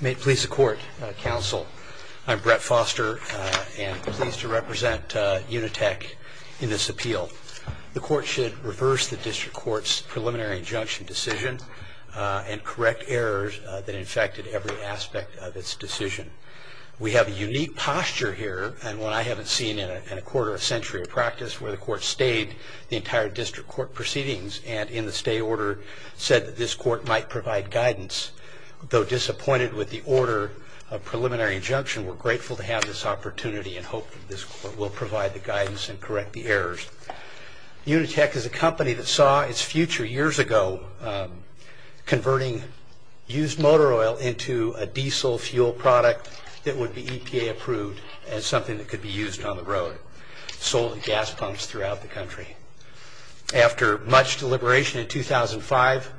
May it please the court, counsel. I'm Brett Foster and pleased to represent Unitek in this appeal. The court should reverse the district court's preliminary injunction decision and correct errors that infected every aspect of its decision. We have a unique posture here and one I haven't seen in a quarter of a century of practice where the court stayed the entire district court proceedings and in the stay order said that this court might provide guidance. Though disappointed with the order of preliminary injunction, we're grateful to have this opportunity and hope that this court will provide the guidance and correct the errors. Unitek is a company that saw its future years ago converting used motor oil into a diesel fuel product that would be EPA approved as something that could be used on the road, sold in gas pumps throughout the country. After much deliberation in 2005,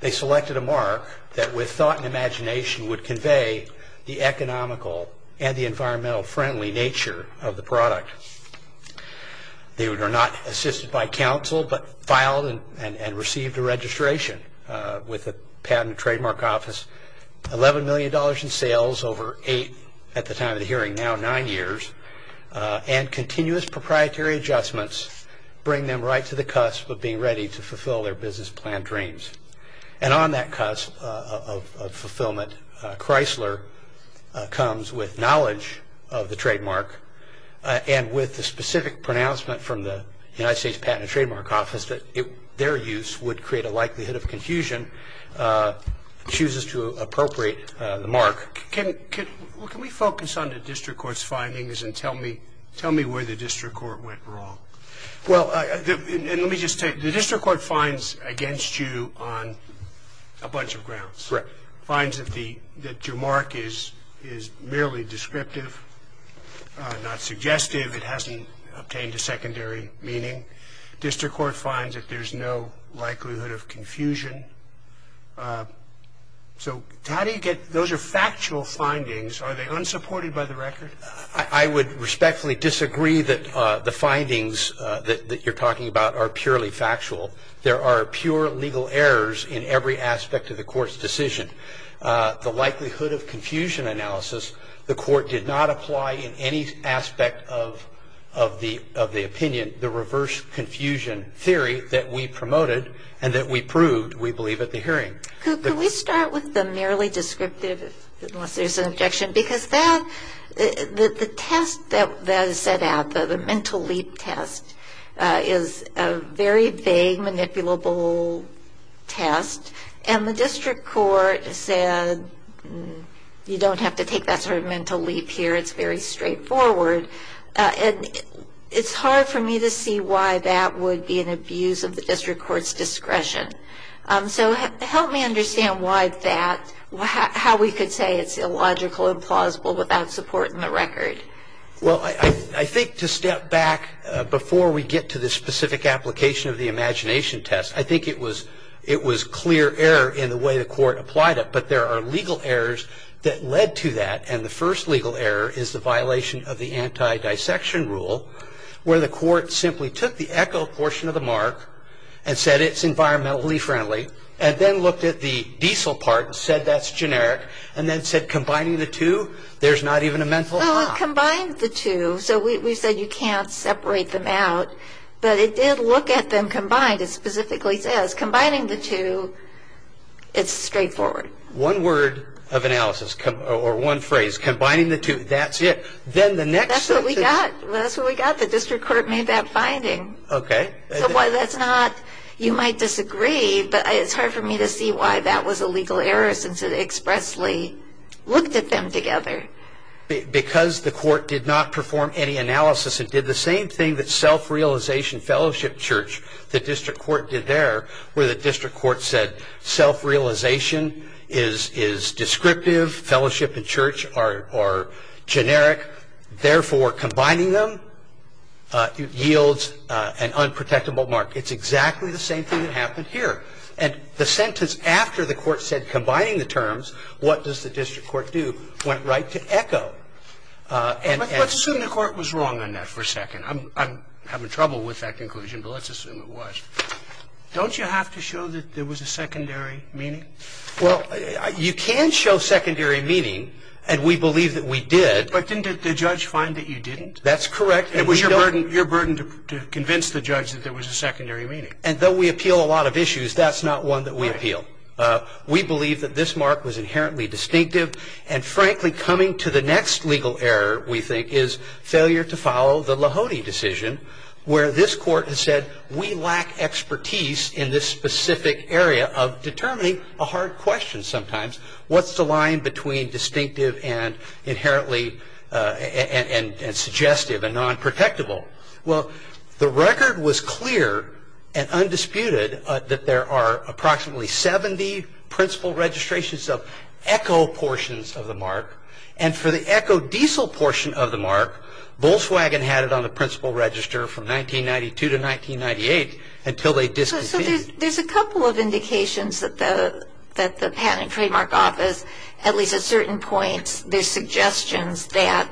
they selected a mark that with thought and imagination would convey the economical and the environmental friendly nature of the product. They were not assisted by counsel but filed and received a registration with the Patent and Trademark Office, 11 million dollars in sales over eight at the time of the hearing, now nine years, and continuous proprietary adjustments bring them right to the cusp of being ready to fulfill their business plan dreams. And on that cusp of fulfillment, Chrysler comes with knowledge of the trademark and with the specific pronouncement from the United States Patent and Trademark Office that their use would create a likelihood of confusion, chooses to appropriate the mark. Can we focus on the district court went wrong? Well, let me just tell you, the district court finds against you on a bunch of grounds. Finds that your mark is merely descriptive, not suggestive, it hasn't obtained a secondary meaning. District court finds that there's no likelihood of confusion. So how do you get, those are factual findings, are they unsupported by the record? I would respectfully disagree that the findings that you're talking about are purely factual. There are pure legal errors in every aspect of the court's decision. The likelihood of confusion analysis, the court did not apply in any aspect of the opinion, the reverse confusion theory that we promoted and that we proved, we believe, at the hearing. Could we start with the merely The test that is set out, the mental leap test, is a very vague, manipulable test and the district court said you don't have to take that sort of mental leap here, it's very straightforward and it's hard for me to see why that would be an abuse of the district court's discretion. So help me understand why that, how we could say it's illogical, implausible, without support in the record. Well I think to step back before we get to the specific application of the imagination test, I think it was it was clear error in the way the court applied it, but there are legal errors that led to that and the first legal error is the violation of the anti-dissection rule where the court simply took the echo portion of the mark and said it's environmentally friendly and then looked at the diesel part and said that's generic and then said combining the two there's not even a mental hop. Well it combined the two, so we said you can't separate them out, but it did look at them combined, it specifically says combining the two, it's straightforward. One word of analysis or one phrase, combining the two, that's it. Then the next. That's what we got, that's what we got, the district court made that finding. Okay. So why that's not, you might disagree, but it's hard for me to see why that was a legal error since it expressly looked at them together. Because the court did not perform any analysis and did the same thing that self-realization fellowship church, the district court did there, where the district court said self-realization is descriptive, fellowship and church are generic, therefore combining them yields an unprotectable mark. It's exactly the sentence after the court said combining the terms, what does the district court do, went right to echo. Let's assume the court was wrong on that for a second. I'm having trouble with that conclusion, but let's assume it was. Don't you have to show that there was a secondary meaning? Well, you can show secondary meaning and we believe that we did. But didn't the judge find that you didn't? That's correct. It was your burden to convince the judge that there was a secondary meaning. And though we appeal a lot of issues, that's not one that we appeal. We believe that this mark was inherently distinctive and frankly coming to the next legal error, we think, is failure to follow the Lahode decision where this court has said we lack expertise in this specific area of determining a hard question sometimes. What's the line between distinctive and inherently and undisputed that there are approximately 70 principal registrations of echo portions of the mark and for the echo diesel portion of the mark, Volkswagen had it on the principal register from 1992 to 1998 until they discontinued. So there's a couple of indications that the Patent and Trademark Office, at least at certain points, there's suggestions that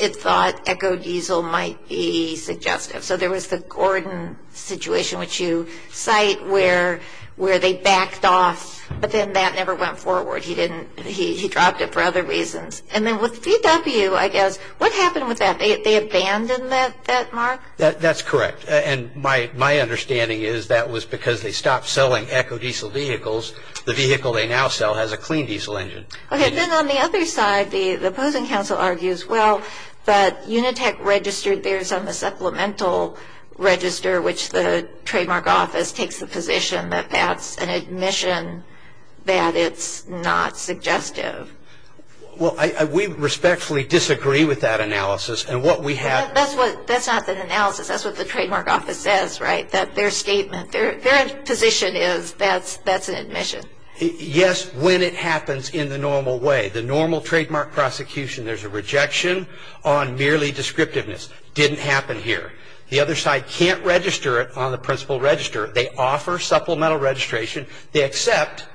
it thought echo diesel might be suggestive. So there was the Gordon situation, which you cite, where they backed off. But then that never went forward. He dropped it for other reasons. And then with VW, I guess, what happened with that? They abandoned that mark? That's correct. And my understanding is that was because they stopped selling echo diesel vehicles. The vehicle they now sell has a clean diesel engine. Okay. Then on the other side, the opposing counsel argues, well, that Unitech registered there's a supplemental register, which the Trademark Office takes the position that that's an admission that it's not suggestive. Well, we respectfully disagree with that analysis and what we have. That's what that's not the analysis. That's what the Trademark Office says, right? That their statement, their position is that's that's an admission. Yes. When it happens in the normal way, the normal trademark prosecution, there's a rejection on merely descriptiveness. Didn't happen here. The other side can't register it on the principal register. They offer supplemental registration, they accept,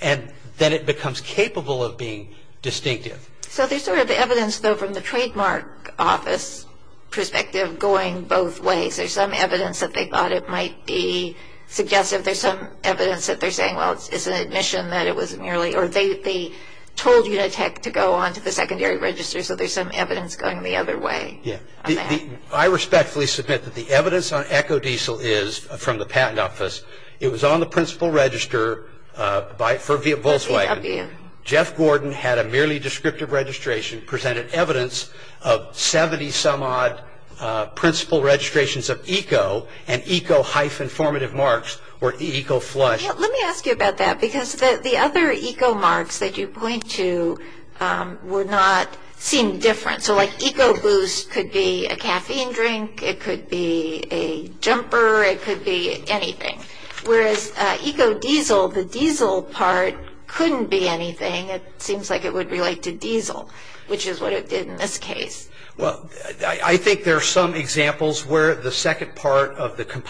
and then it becomes capable of being distinctive. So there's sort of evidence, though, from the Trademark Office perspective going both ways. There's some evidence that they thought it might be suggestive. There's some evidence that they're saying, well, it's an admission that it was merely, or they told Unitech to go on to the secondary register. So there's some evidence going the other way. Yeah. I respectfully submit that the evidence on Ecodiesel is from the Patent Office. It was on the principal register for Volkswagen. Jeff Gordon had a merely descriptive registration, presented evidence of 70-some-odd principal registrations of ECO, and ECO hyphen formative marks were ECO flush. Let me ask you about that, because the other ECO marks that you point to would not seem different. So like ECO boost could be a caffeine drink, it could be a jumper, it could be anything. Whereas Ecodiesel, the diesel part couldn't be anything. It seems like it would relate to diesel, which is what it did in this case. Well, I think there are some examples where the second part of the ECO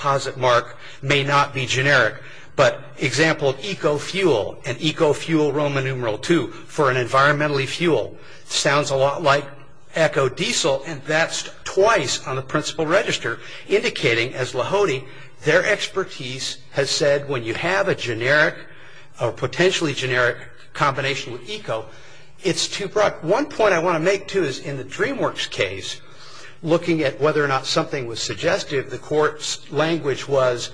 fuel, an ECO fuel Roman numeral 2, for an environmentally fuel, sounds a lot like Ecodiesel, and that's twice on the principal register, indicating, as Lahode, their expertise has said when you have a generic, or potentially generic, combination with ECO, it's too broad. One point I want to make, too, is in the DreamWorks case, looking at whether or not something was suggested, the court's language was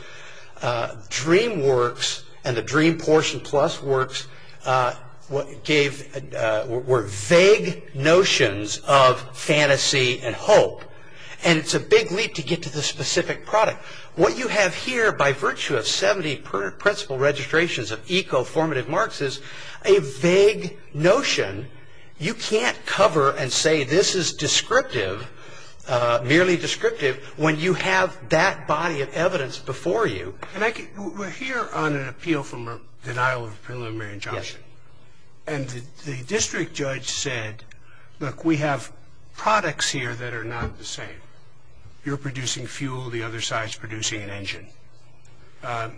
DreamWorks and the DreamPortionPlus works were vague notions of fantasy and hope, and it's a big leap to get to the specific product. What you have here, by virtue of 70 principal registrations of ECO formative marks, is a vague notion. You can't cover and say this is descriptive, merely to have that body of evidence before you. We're here on an appeal from a denial of a preliminary injunction, and the district judge said, look, we have products here that are not the same. You're producing fuel, the other side's producing an engine.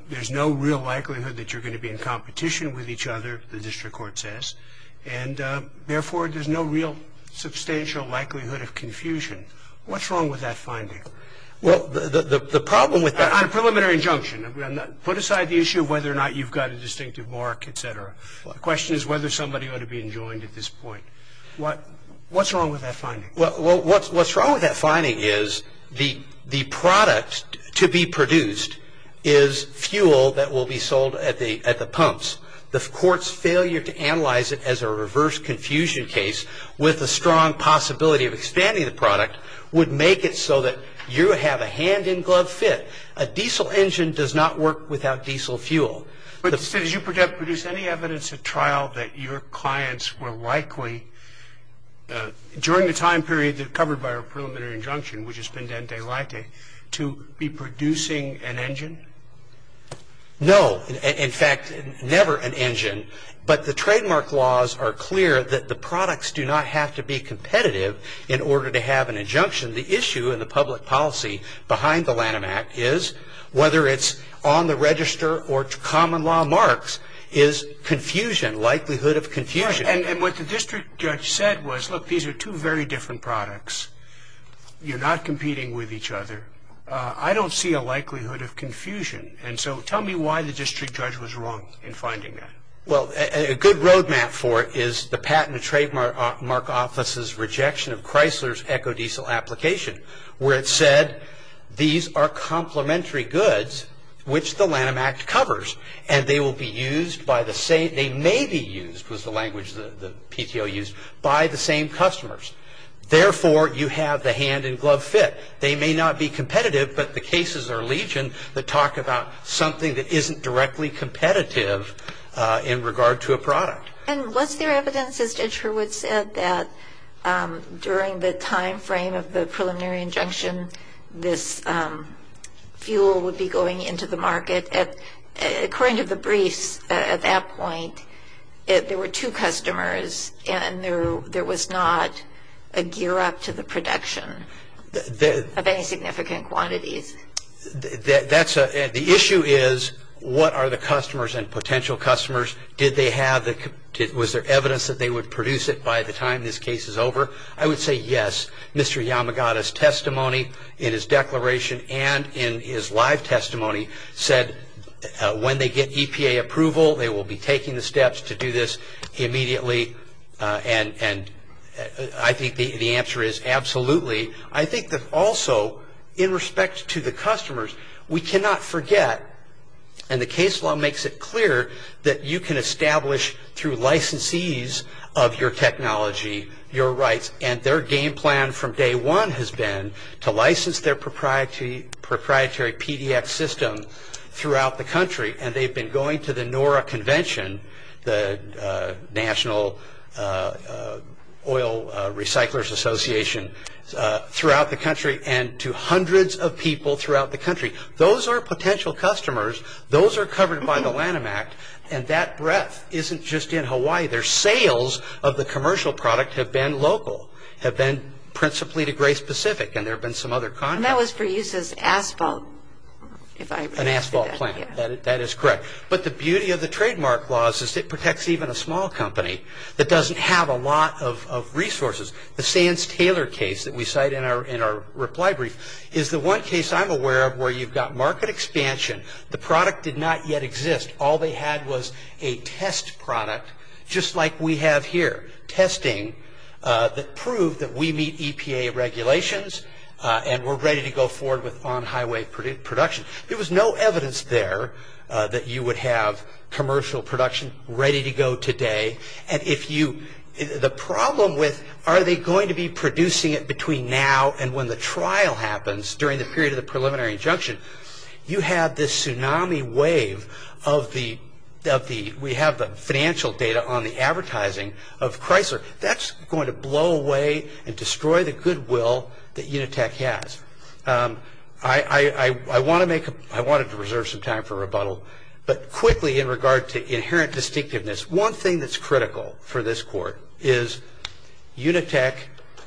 There's no real likelihood that you're going to be in competition with each other, the district court says, and therefore, there's no real substantial likelihood of confusion. What's wrong with that finding? Well, the problem with that... On a preliminary injunction, put aside the issue of whether or not you've got a distinctive mark, et cetera. The question is whether somebody ought to be enjoined at this point. What's wrong with that finding? Well, what's wrong with that finding is the product to be produced is fuel that will be sold at the pumps. The court's failure to analyze it as a reverse confusion case with a strong possibility of expanding the product would make it so that you have a hand-in-glove fit. A diesel engine does not work without diesel fuel. But did you produce any evidence at trial that your clients were likely, during the time period covered by our preliminary injunction, which is pendente laite, to be producing an engine? No. In fact, never an engine. But the trademark laws are clear that the products do not have to be competitive in order to have an injunction. The issue in the public policy behind the Lanham Act is, whether it's on the register or to common law marks, is confusion, likelihood of confusion. And what the district judge said was, look, these are two very different products. You're not competing with each other. I don't see a likelihood of confusion. And so tell me why the district judge was wrong in finding that. Well, a good roadmap for it is the Patent and Trademark Office's rejection of where it said, these are complementary goods, which the Lanham Act covers. And they will be used by the same, they may be used, was the language the PTO used, by the same customers. Therefore, you have the hand-in-glove fit. They may not be competitive, but the cases are legion that talk about something that isn't directly competitive in regard to a product. And was there evidence, as Judge Hurwitz said, that during the time frame of the preliminary injunction, this fuel would be going into the market? According to the briefs at that point, there were two customers, and there was not a gear up to the production of any significant quantities. That's a, the issue is, what are the customers and potential customers? Did they have the, was there evidence that they would produce it by the time this case is over? I would say, yes. Mr. Yamagata's testimony in his declaration and in his live testimony said, when they get EPA approval, they will be taking the steps to do this immediately. And I think the answer is, absolutely. I think that also, in respect to the customers, we cannot forget, and the case law makes it clear, that you can establish, through licensees of your technology, your rights. And their game plan from day one has been to license their proprietary PDX system throughout the country. And they've been going to the NORA Convention, the National Oil Recyclers Association, throughout the country, and to hundreds of people throughout the country. Those are potential customers. Those are covered by the Lanham Act, and that breadth isn't just in Hawaii. Their sales of the commercial product have been local, have been principally to Grace Pacific, and there have been some other content. And that was for use as asphalt, if I understood that. An asphalt plant, that is correct. But the beauty of the trademark laws is it protects even a small company that doesn't have a lot of resources. The Sands-Taylor case that we cite in our reply brief is the one case I'm aware of where you've got market expansion, the product did not yet exist. All they had was a test product, just like we have here. Testing that proved that we meet EPA regulations, and we're ready to go forward with on-highway production. There was no evidence there that you would have commercial production ready to go today. And if you, the problem with, are they going to be producing it between now and when the trial happens during the preliminary injunction, you have this tsunami wave of the, we have the financial data on the advertising of Chrysler. That's going to blow away and destroy the goodwill that Unitech has. I want to make, I wanted to reserve some time for rebuttal, but quickly in regard to inherent distinctiveness, one thing that's critical for this court is Unitech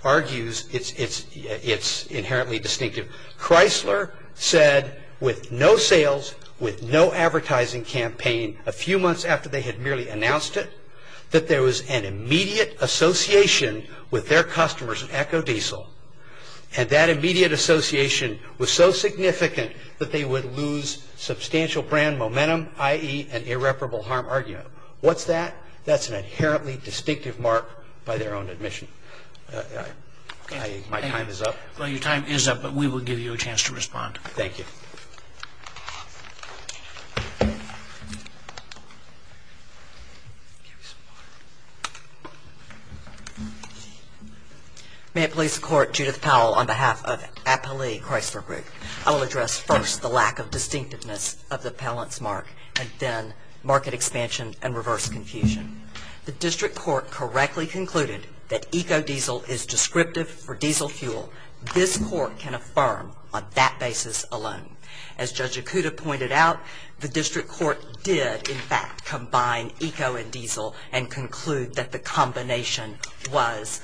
argues it's inherently distinctive. Chrysler said with no sales, with no advertising campaign, a few months after they had merely announced it, that there was an immediate association with their customers at EcoDiesel, and that immediate association was so significant that they would lose substantial brand momentum, i.e. an irreparable harm argument. What's that? That's an inherently distinctive mark by their own admission. My time is up. Well, your time is up, but we will give you a chance to respond. Thank you. May it please the Court, Judith Powell on behalf of Appali Chrysler Group, I will address first the lack of distinctiveness of the Pallance mark, and then market expansion and reverse confusion. The district court correctly concluded that EcoDiesel is descriptive for diesel fuel. This court can affirm on that basis alone. As Judge Ikuda pointed out, the district court did in fact combine Eco and Diesel and conclude that the combination was,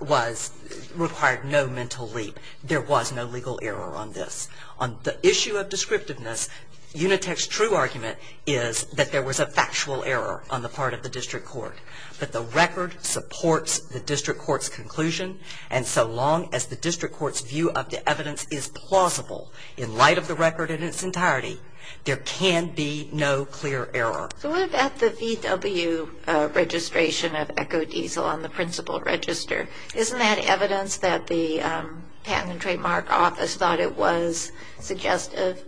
was, required no mental leap. There was no legal error on this. On the issue of descriptiveness, Unitech's true argument is that there was a factual error on the part of the district court that supports the district court's conclusion, and so long as the district court's view of the evidence is plausible in light of the record in its entirety, there can be no clear error. So what about the VW registration of EcoDiesel on the principal register? Isn't that evidence that the Patent and Trademark Office thought it was suggestive?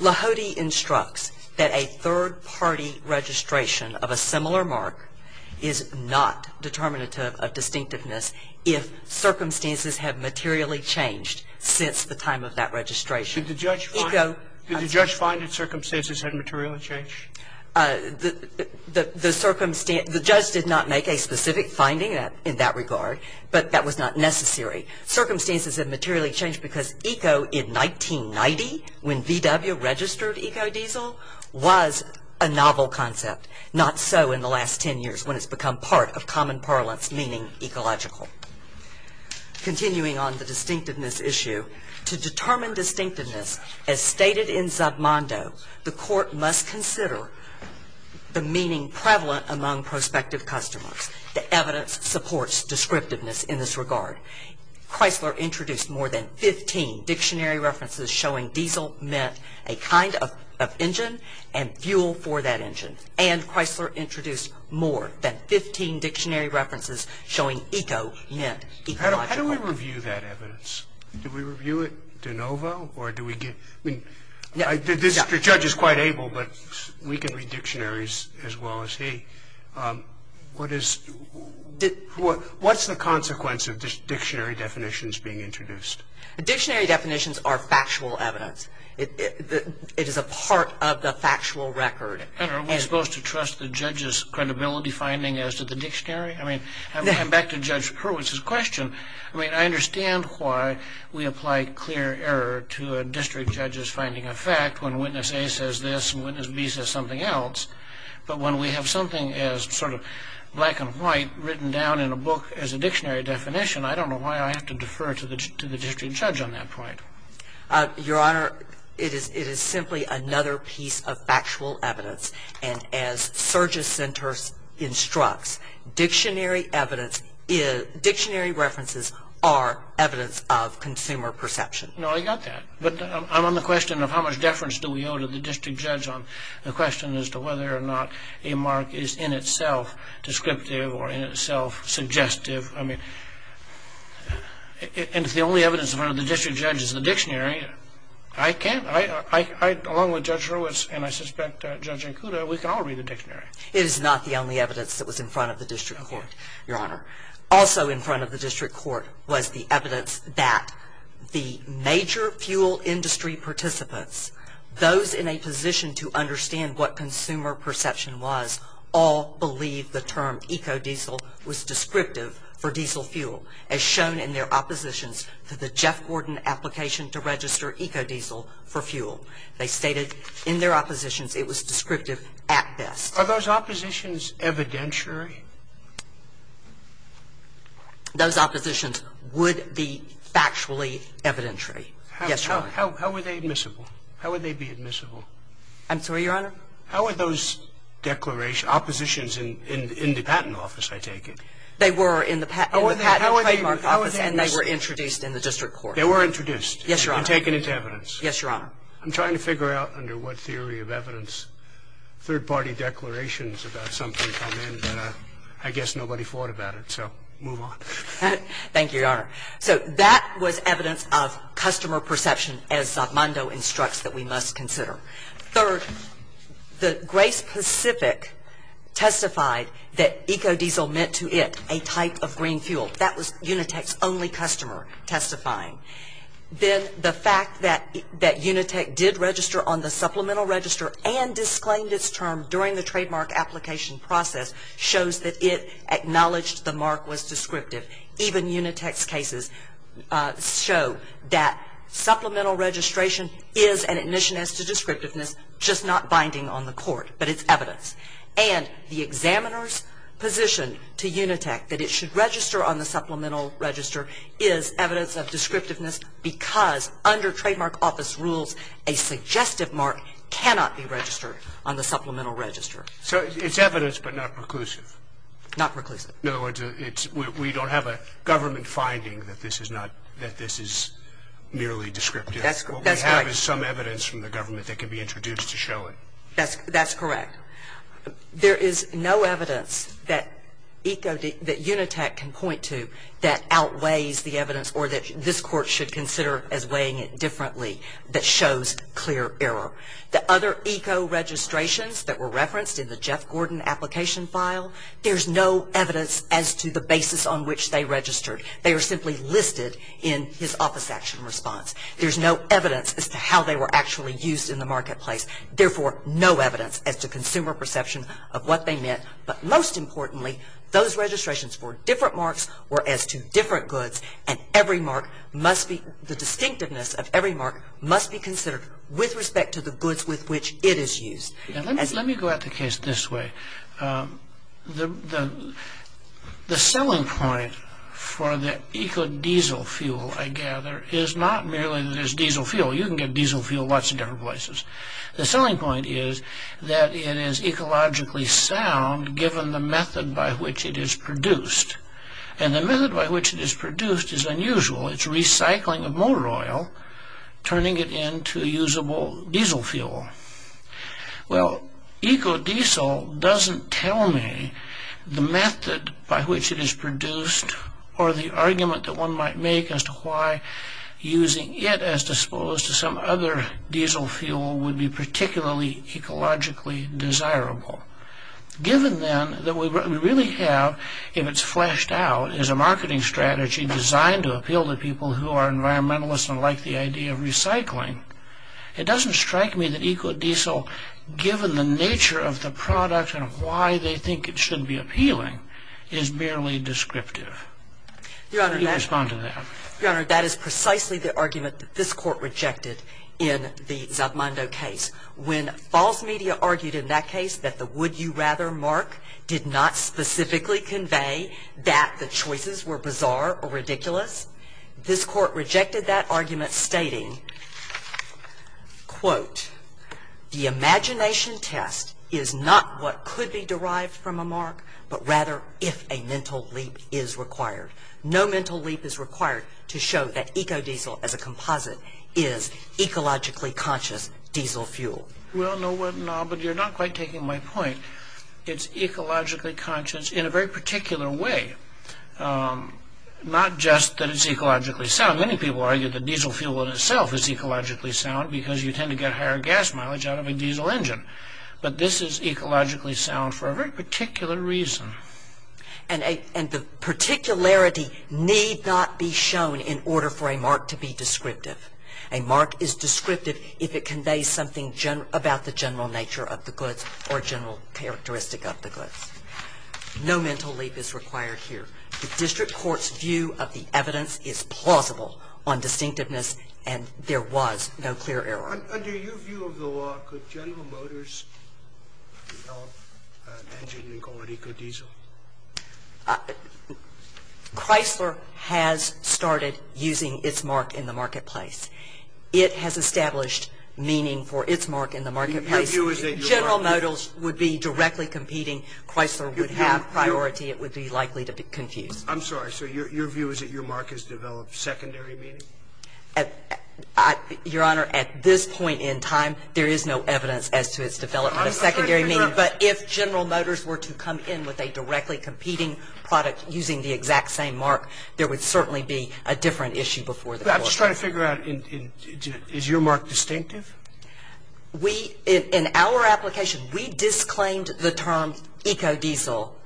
Lahode instructs that a third-party registration of a similar mark is not determinative of distinctiveness if circumstances have materially changed since the time of that registration. Did the judge find that circumstances had materially changed? The judge did not make a specific finding in that regard, but that was not necessary. Circumstances have materially changed because Eco in 1990, when VW registered EcoDiesel, was a novel concept. Not so in the last ten years when it's become part of common parlance meaning ecological. Continuing on the distinctiveness issue, to determine distinctiveness, as stated in Zabmondo, the court must consider the meaning prevalent among prospective customers. The evidence supports descriptiveness in this regard. Chrysler introduced more than 15 dictionary references showing diesel meant a kind of engine and fuel for that engine. And Chrysler introduced more than 15 dictionary references showing Eco meant ecological. How do we review that evidence? Do we review it de novo or do we get... I mean, the judge is quite able, but we can read dictionaries as well as he. What's the consequence of dictionary definitions being introduced? Dictionary definitions are factual evidence. It is a part of the factual record. And are we supposed to trust the judge's credibility finding as to the dictionary? I mean, I come back to Judge Hurwitz's question. I mean, I understand why we apply clear error to a district judge's finding of fact when witness A says this and witness B says something else. But when we have something as sort of black and white written down in a book as a dictionary definition, I don't know why I have to defer to the district judge on that point. Your Honor, it is simply another piece of factual evidence. And as Surges Center instructs, dictionary references are evidence of consumer perception. No, I got that. But I'm on the question of how much deference do we owe to the district judge on the question as to whether or not a mark is in itself descriptive or in itself suggestive? I mean, and if the only evidence in front of the district judge is the dictionary, I can't. I, along with Judge Hurwitz and I suspect Judge Ankuda, we can all read the dictionary. It is not the only evidence that was in front of the district court, Your Honor. Also in front of the district court was the evidence that the major fuel industry participants, those in a position to understand what consumer perception was, all believed the term eco-diesel was descriptive for diesel fuel, as shown in their oppositions to the Jeff Gordon application to register eco-diesel for fuel. They stated in their oppositions it was descriptive at best. Are those oppositions evidentiary? Those oppositions would be factually evidentiary. Yes, Your Honor. How were they admissible? How would they be admissible? I'm sorry, Your Honor? How were those declarations, oppositions in the patent office, I take it? They were in the patent trademark office and they were introduced in the district court. They were introduced. Yes, Your Honor. And taken into evidence. Yes, Your Honor. I'm trying to figure out under what theory of evidence third-party declarations about something come in, but I guess nobody thought about it, so move on. Thank you, Your Honor. So that was evidence of customer perception as Zatmando instructs that we must consider. Third, the Grace Pacific testified that eco-diesel meant to it a type of green fuel. That was Unitech's only customer testifying. Then the fact that Unitech did register on the supplemental register and disclaimed its term during the trademark application process shows that it was descriptive. Even Unitech's cases show that supplemental registration is an admission as to descriptiveness, just not binding on the court. But it's evidence. And the examiner's position to Unitech that it should register on the supplemental register is evidence of descriptiveness because under trademark office rules, a suggestive mark cannot be registered on the supplemental register. So it's evidence but not preclusive? Not preclusive. In other words, we don't have a government finding that this is merely descriptive. What we have is some evidence from the government that can be introduced to show it. That's correct. There is no evidence that Unitech can point to that outweighs the evidence or that this court should consider as weighing it differently that shows clear error. The other eco-registrations that were referenced in the Jeff Gordon application file, there's no evidence as to the basis on which they registered. They are simply listed in his office action response. There's no evidence as to how they were actually used in the marketplace. Therefore, no evidence as to consumer perception of what they meant. But most importantly, those registrations were different marks or as to different goods, and every mark must be the distinctiveness of every mark must be considered with respect to the goods with which it is used. Let me go at the case this way. The selling point for the eco-diesel fuel, I gather, is not merely that there's diesel fuel. You can get diesel fuel lots of different places. The selling point is that it is ecologically sound given the method by which it is produced. And the method by which it is produced is unusual. It's recycling of motor oil, turning it into usable diesel fuel. Well, eco-diesel doesn't tell me the method by which it is produced or the argument that one might make as to why using it as opposed to some other diesel fuel would be particularly ecologically desirable. Given then that what we really have, if it's fleshed out, is a marketing strategy designed to appeal to people who are environmentalists and like the idea of eco-diesel, given the nature of the product and why they think it should be appealing, is barely descriptive. Could you respond to that? Your Honor, that is precisely the argument that this Court rejected in the Zatomando case. When false media argued in that case that the would-you-rather mark did not specifically convey that the choices were bizarre or ridiculous, this Court rejected that argument stating, quote, the imagination test is not what could be derived from a mark, but rather if a mental leap is required. No mental leap is required to show that eco-diesel as a composite is ecologically conscious diesel fuel. Well, no, but you're not quite taking my point. It's ecologically conscious in a very particular way, not just that it's ecologically sound. Many people argue that diesel fuel in itself is ecologically sound because you tend to get higher gas mileage out of a diesel engine. But this is ecologically sound for a very particular reason. And the particularity need not be shown in order for a mark to be descriptive. A mark is descriptive if it conveys something about the general nature of the goods or general characteristic of the goods. No mental leap is required here. The district court's view of the evidence is plausible on distinctiveness and there was no clear error. Under your view of the law, could General Motors develop an engine called eco-diesel? Chrysler has started using its mark in the marketplace. It has established meaning for its mark in the marketplace. General Motors would be directly competing. Chrysler would have priority. It would be likely to be confused. I'm sorry. So your view is that your mark has developed secondary meaning? Your Honor, at this point in time, there is no evidence as to its development of secondary meaning. But if General Motors were to come in with a directly competing product using the exact same mark, there would certainly be a different issue before the court. I'm just trying to figure out, is your mark distinctive? In our application, we disclaimed the term eco-diesel,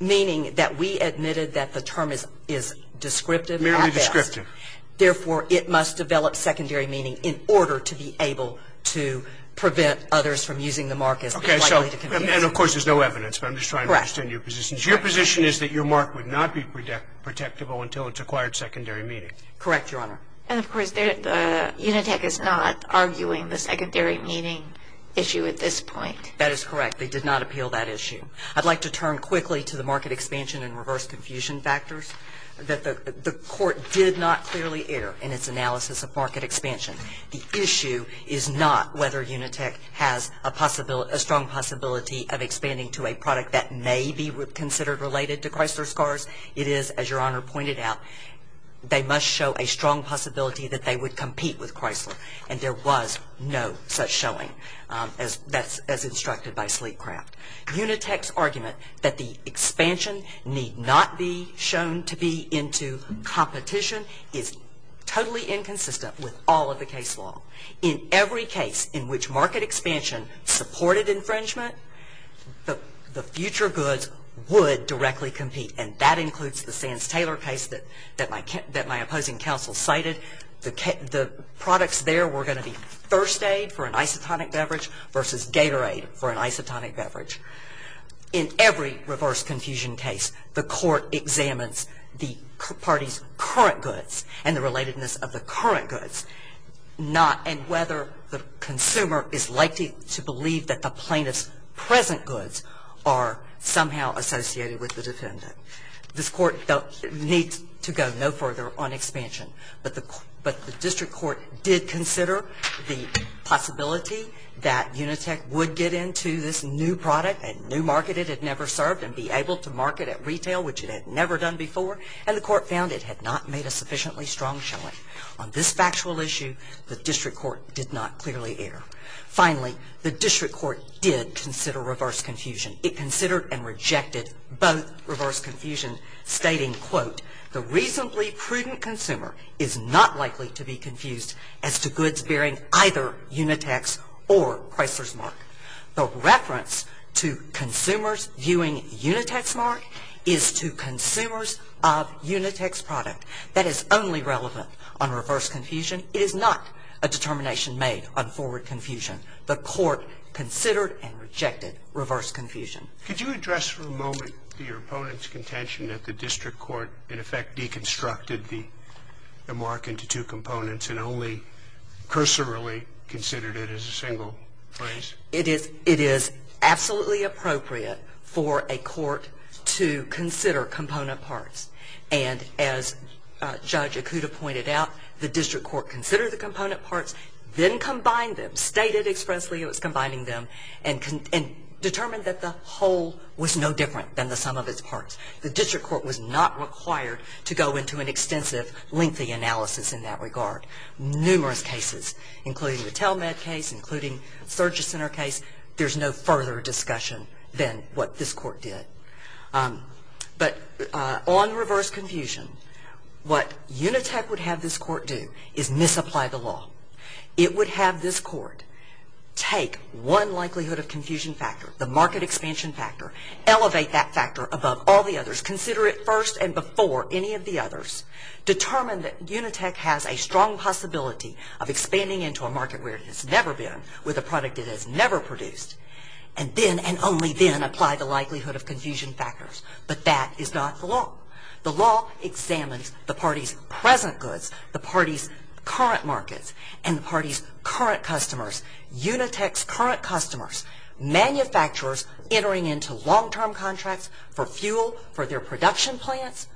meaning that we admitted that the term is descriptive. Merely descriptive. Therefore, it must develop secondary meaning in order to be able to prevent others from using the mark as likely to confuse them. And of course, there's no evidence. I'm just trying to understand your position. Your position is that your mark would not be protectable until it's acquired secondary meaning. Correct, Your Honor. And of course, Unitech is not arguing the secondary meaning issue at this point. That is correct. They did not appeal that issue. I'd like to turn quickly to the market expansion and reverse confusion factors that the court did not clearly air in its analysis of market expansion. The issue is not whether Unitech has a strong possibility of expanding to a product that may be considered related to Chrysler Scars. It is, as Your Honor pointed out, they must show a strong possibility that they would compete with Chrysler. And there was no such showing, as instructed by Sleekcraft. Unitech's argument that the expansion need not be shown to be into competition is totally inconsistent with all of the case law. In every case in which market expansion supported infringement, the future goods would directly compete. And that includes the Sands-Taylor case that my opposing counsel cited. The products there were going to be Thirst Aid for an isotonic beverage versus Gatorade for an isotonic beverage. In every reverse confusion case, the court examines the party's current goods and the relatedness of the current goods, and whether the consumer is likely to This court needs to go no further on expansion. But the district court did consider the possibility that Unitech would get into this new product, a new market it had never served, and be able to market at retail, which it had never done before. And the court found it had not made a sufficiently strong showing. On this factual issue, the district court did not clearly err. Finally, the district court did consider reverse confusion. It considered and rejected both reverse confusion, stating, The reasonably prudent consumer is not likely to be confused as to goods bearing either Unitech's or Chrysler's mark. The reference to consumers viewing Unitech's mark is to consumers of Unitech's product. That is only relevant on reverse confusion. It is not a determination made on forward confusion. The court considered and rejected reverse confusion. Could you address for a moment your opponent's contention that the district court, in effect, deconstructed the mark into two components and only cursorily considered it as a single phrase? It is absolutely appropriate for a court to consider component parts. And as Judge Ikuda pointed out, the district court considered the component parts, then combined them, stated expressly it was combining them, and determined that the whole was no different than the sum of its parts. The district court was not required to go into an extensive, lengthy analysis in that regard. Numerous cases, including the Telmed case, including Surge Center case, there's no further discussion than what this court did. But on reverse confusion, what Unitech would have this court do is misapply the law. It would have this court take one likelihood of confusion factor, the market expansion factor, elevate that factor above all the others, consider it first and before any of the others, determine that Unitech has a strong possibility of expanding into a market where it has never been, with a product it has never produced, and then and only then apply the likelihood of confusion factors. But that is not the law. The law examines the party's present goods, the party's current markets, and the party's current customers, Unitech's current customers. Manufacturers entering into long-term contracts for fuel for their production plants,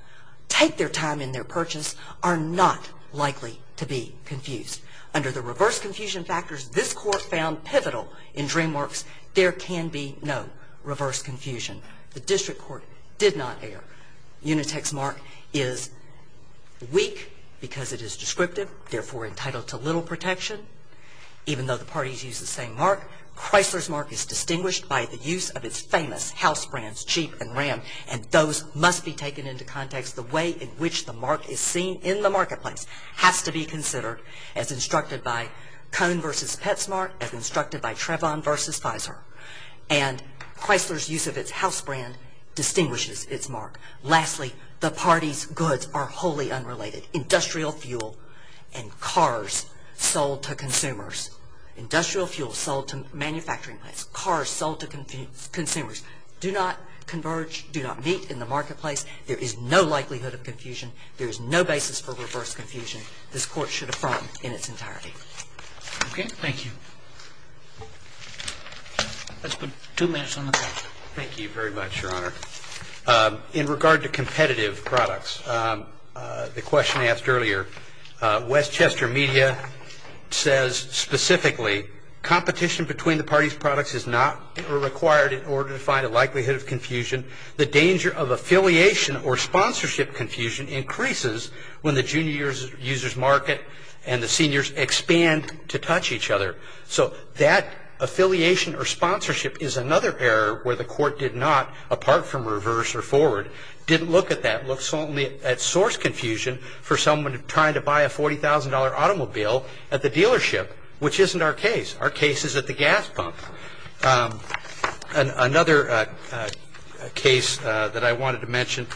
take their time in their purchase, are not likely to be confused. Under the reverse confusion factors this court found pivotal in DreamWorks, there can be no reverse confusion. The district court did not err. Unitech's mark is weak because it is descriptive, therefore entitled to little protection. Even though the parties use the same mark, Chrysler's mark is distinguished by the use of its famous house brands, Cheap and Ram, and those must be taken into context. The way in which the mark is seen in the marketplace has to be considered as instructed by Cone versus Petsmart, as instructed by Trevon versus Pfizer. And Chrysler's use of its house brand distinguishes its mark. Lastly, the party's goods are wholly unrelated. Industrial fuel and cars sold to consumers. Industrial fuel sold to manufacturing plants, cars sold to consumers do not converge, do not meet in the marketplace. There is no likelihood of confusion. There is no basis for reverse confusion. This court should affirm in its entirety. Okay? Thank you. Let's put two minutes on the clock. Thank you very much, Your Honor. In regard to competitive products, the question asked earlier, Westchester Media says specifically, competition between the parties' products is not required in order to find a likelihood of confusion. The danger of affiliation or sponsorship confusion increases when the junior users market and the seniors expand to touch each other. So that affiliation or sponsorship is another error where the court did not, apart from reverse or forward, didn't look at that, looked only at source confusion for someone trying to buy a $40,000 automobile at the dealership, which isn't our case. Our case is at the gas pump. Another case that I wanted to mention,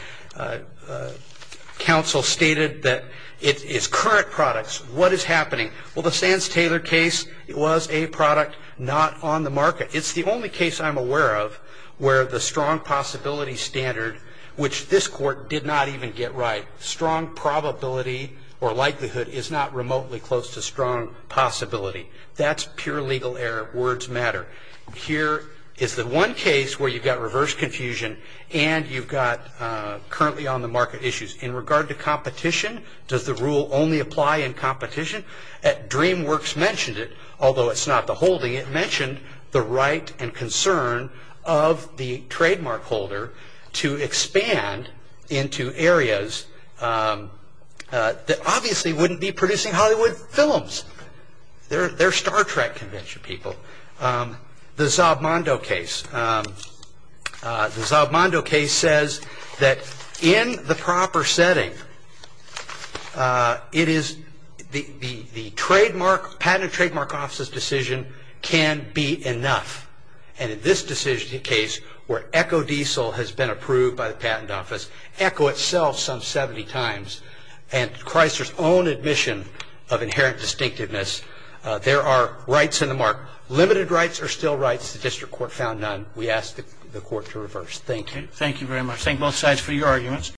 counsel stated that it is current products. What is happening? Well, the Sands-Taylor case was a product not on the market. It's the only case I'm aware of where the strong possibility standard, which this court did not even get right, strong probability or likelihood is not remotely close to strong possibility. That's pure legal error. Words matter. Here is the one case where you've got reverse confusion and you've got currently on the market issues. In regard to competition, does the rule only apply in competition? DreamWorks mentioned it, although it's not the holding. It mentioned the right and concern of the trademark holder to expand into areas that obviously wouldn't be producing Hollywood films. They're Star Trek convention people. The Zabmondo case. The Zabmondo case says that in the proper setting, the Patent and Trademark Office's decision can be enough. In this decision case, where EcoDiesel has been approved by the Patent Office, Eco itself some 70 times, and Chrysler's own admission of inherent distinctiveness, there are rights in the mark. Limited rights are still rights. The district court found none. We ask the court to reverse. Thank you. Roberts. Thank you very much. Thank both sides for your arguments.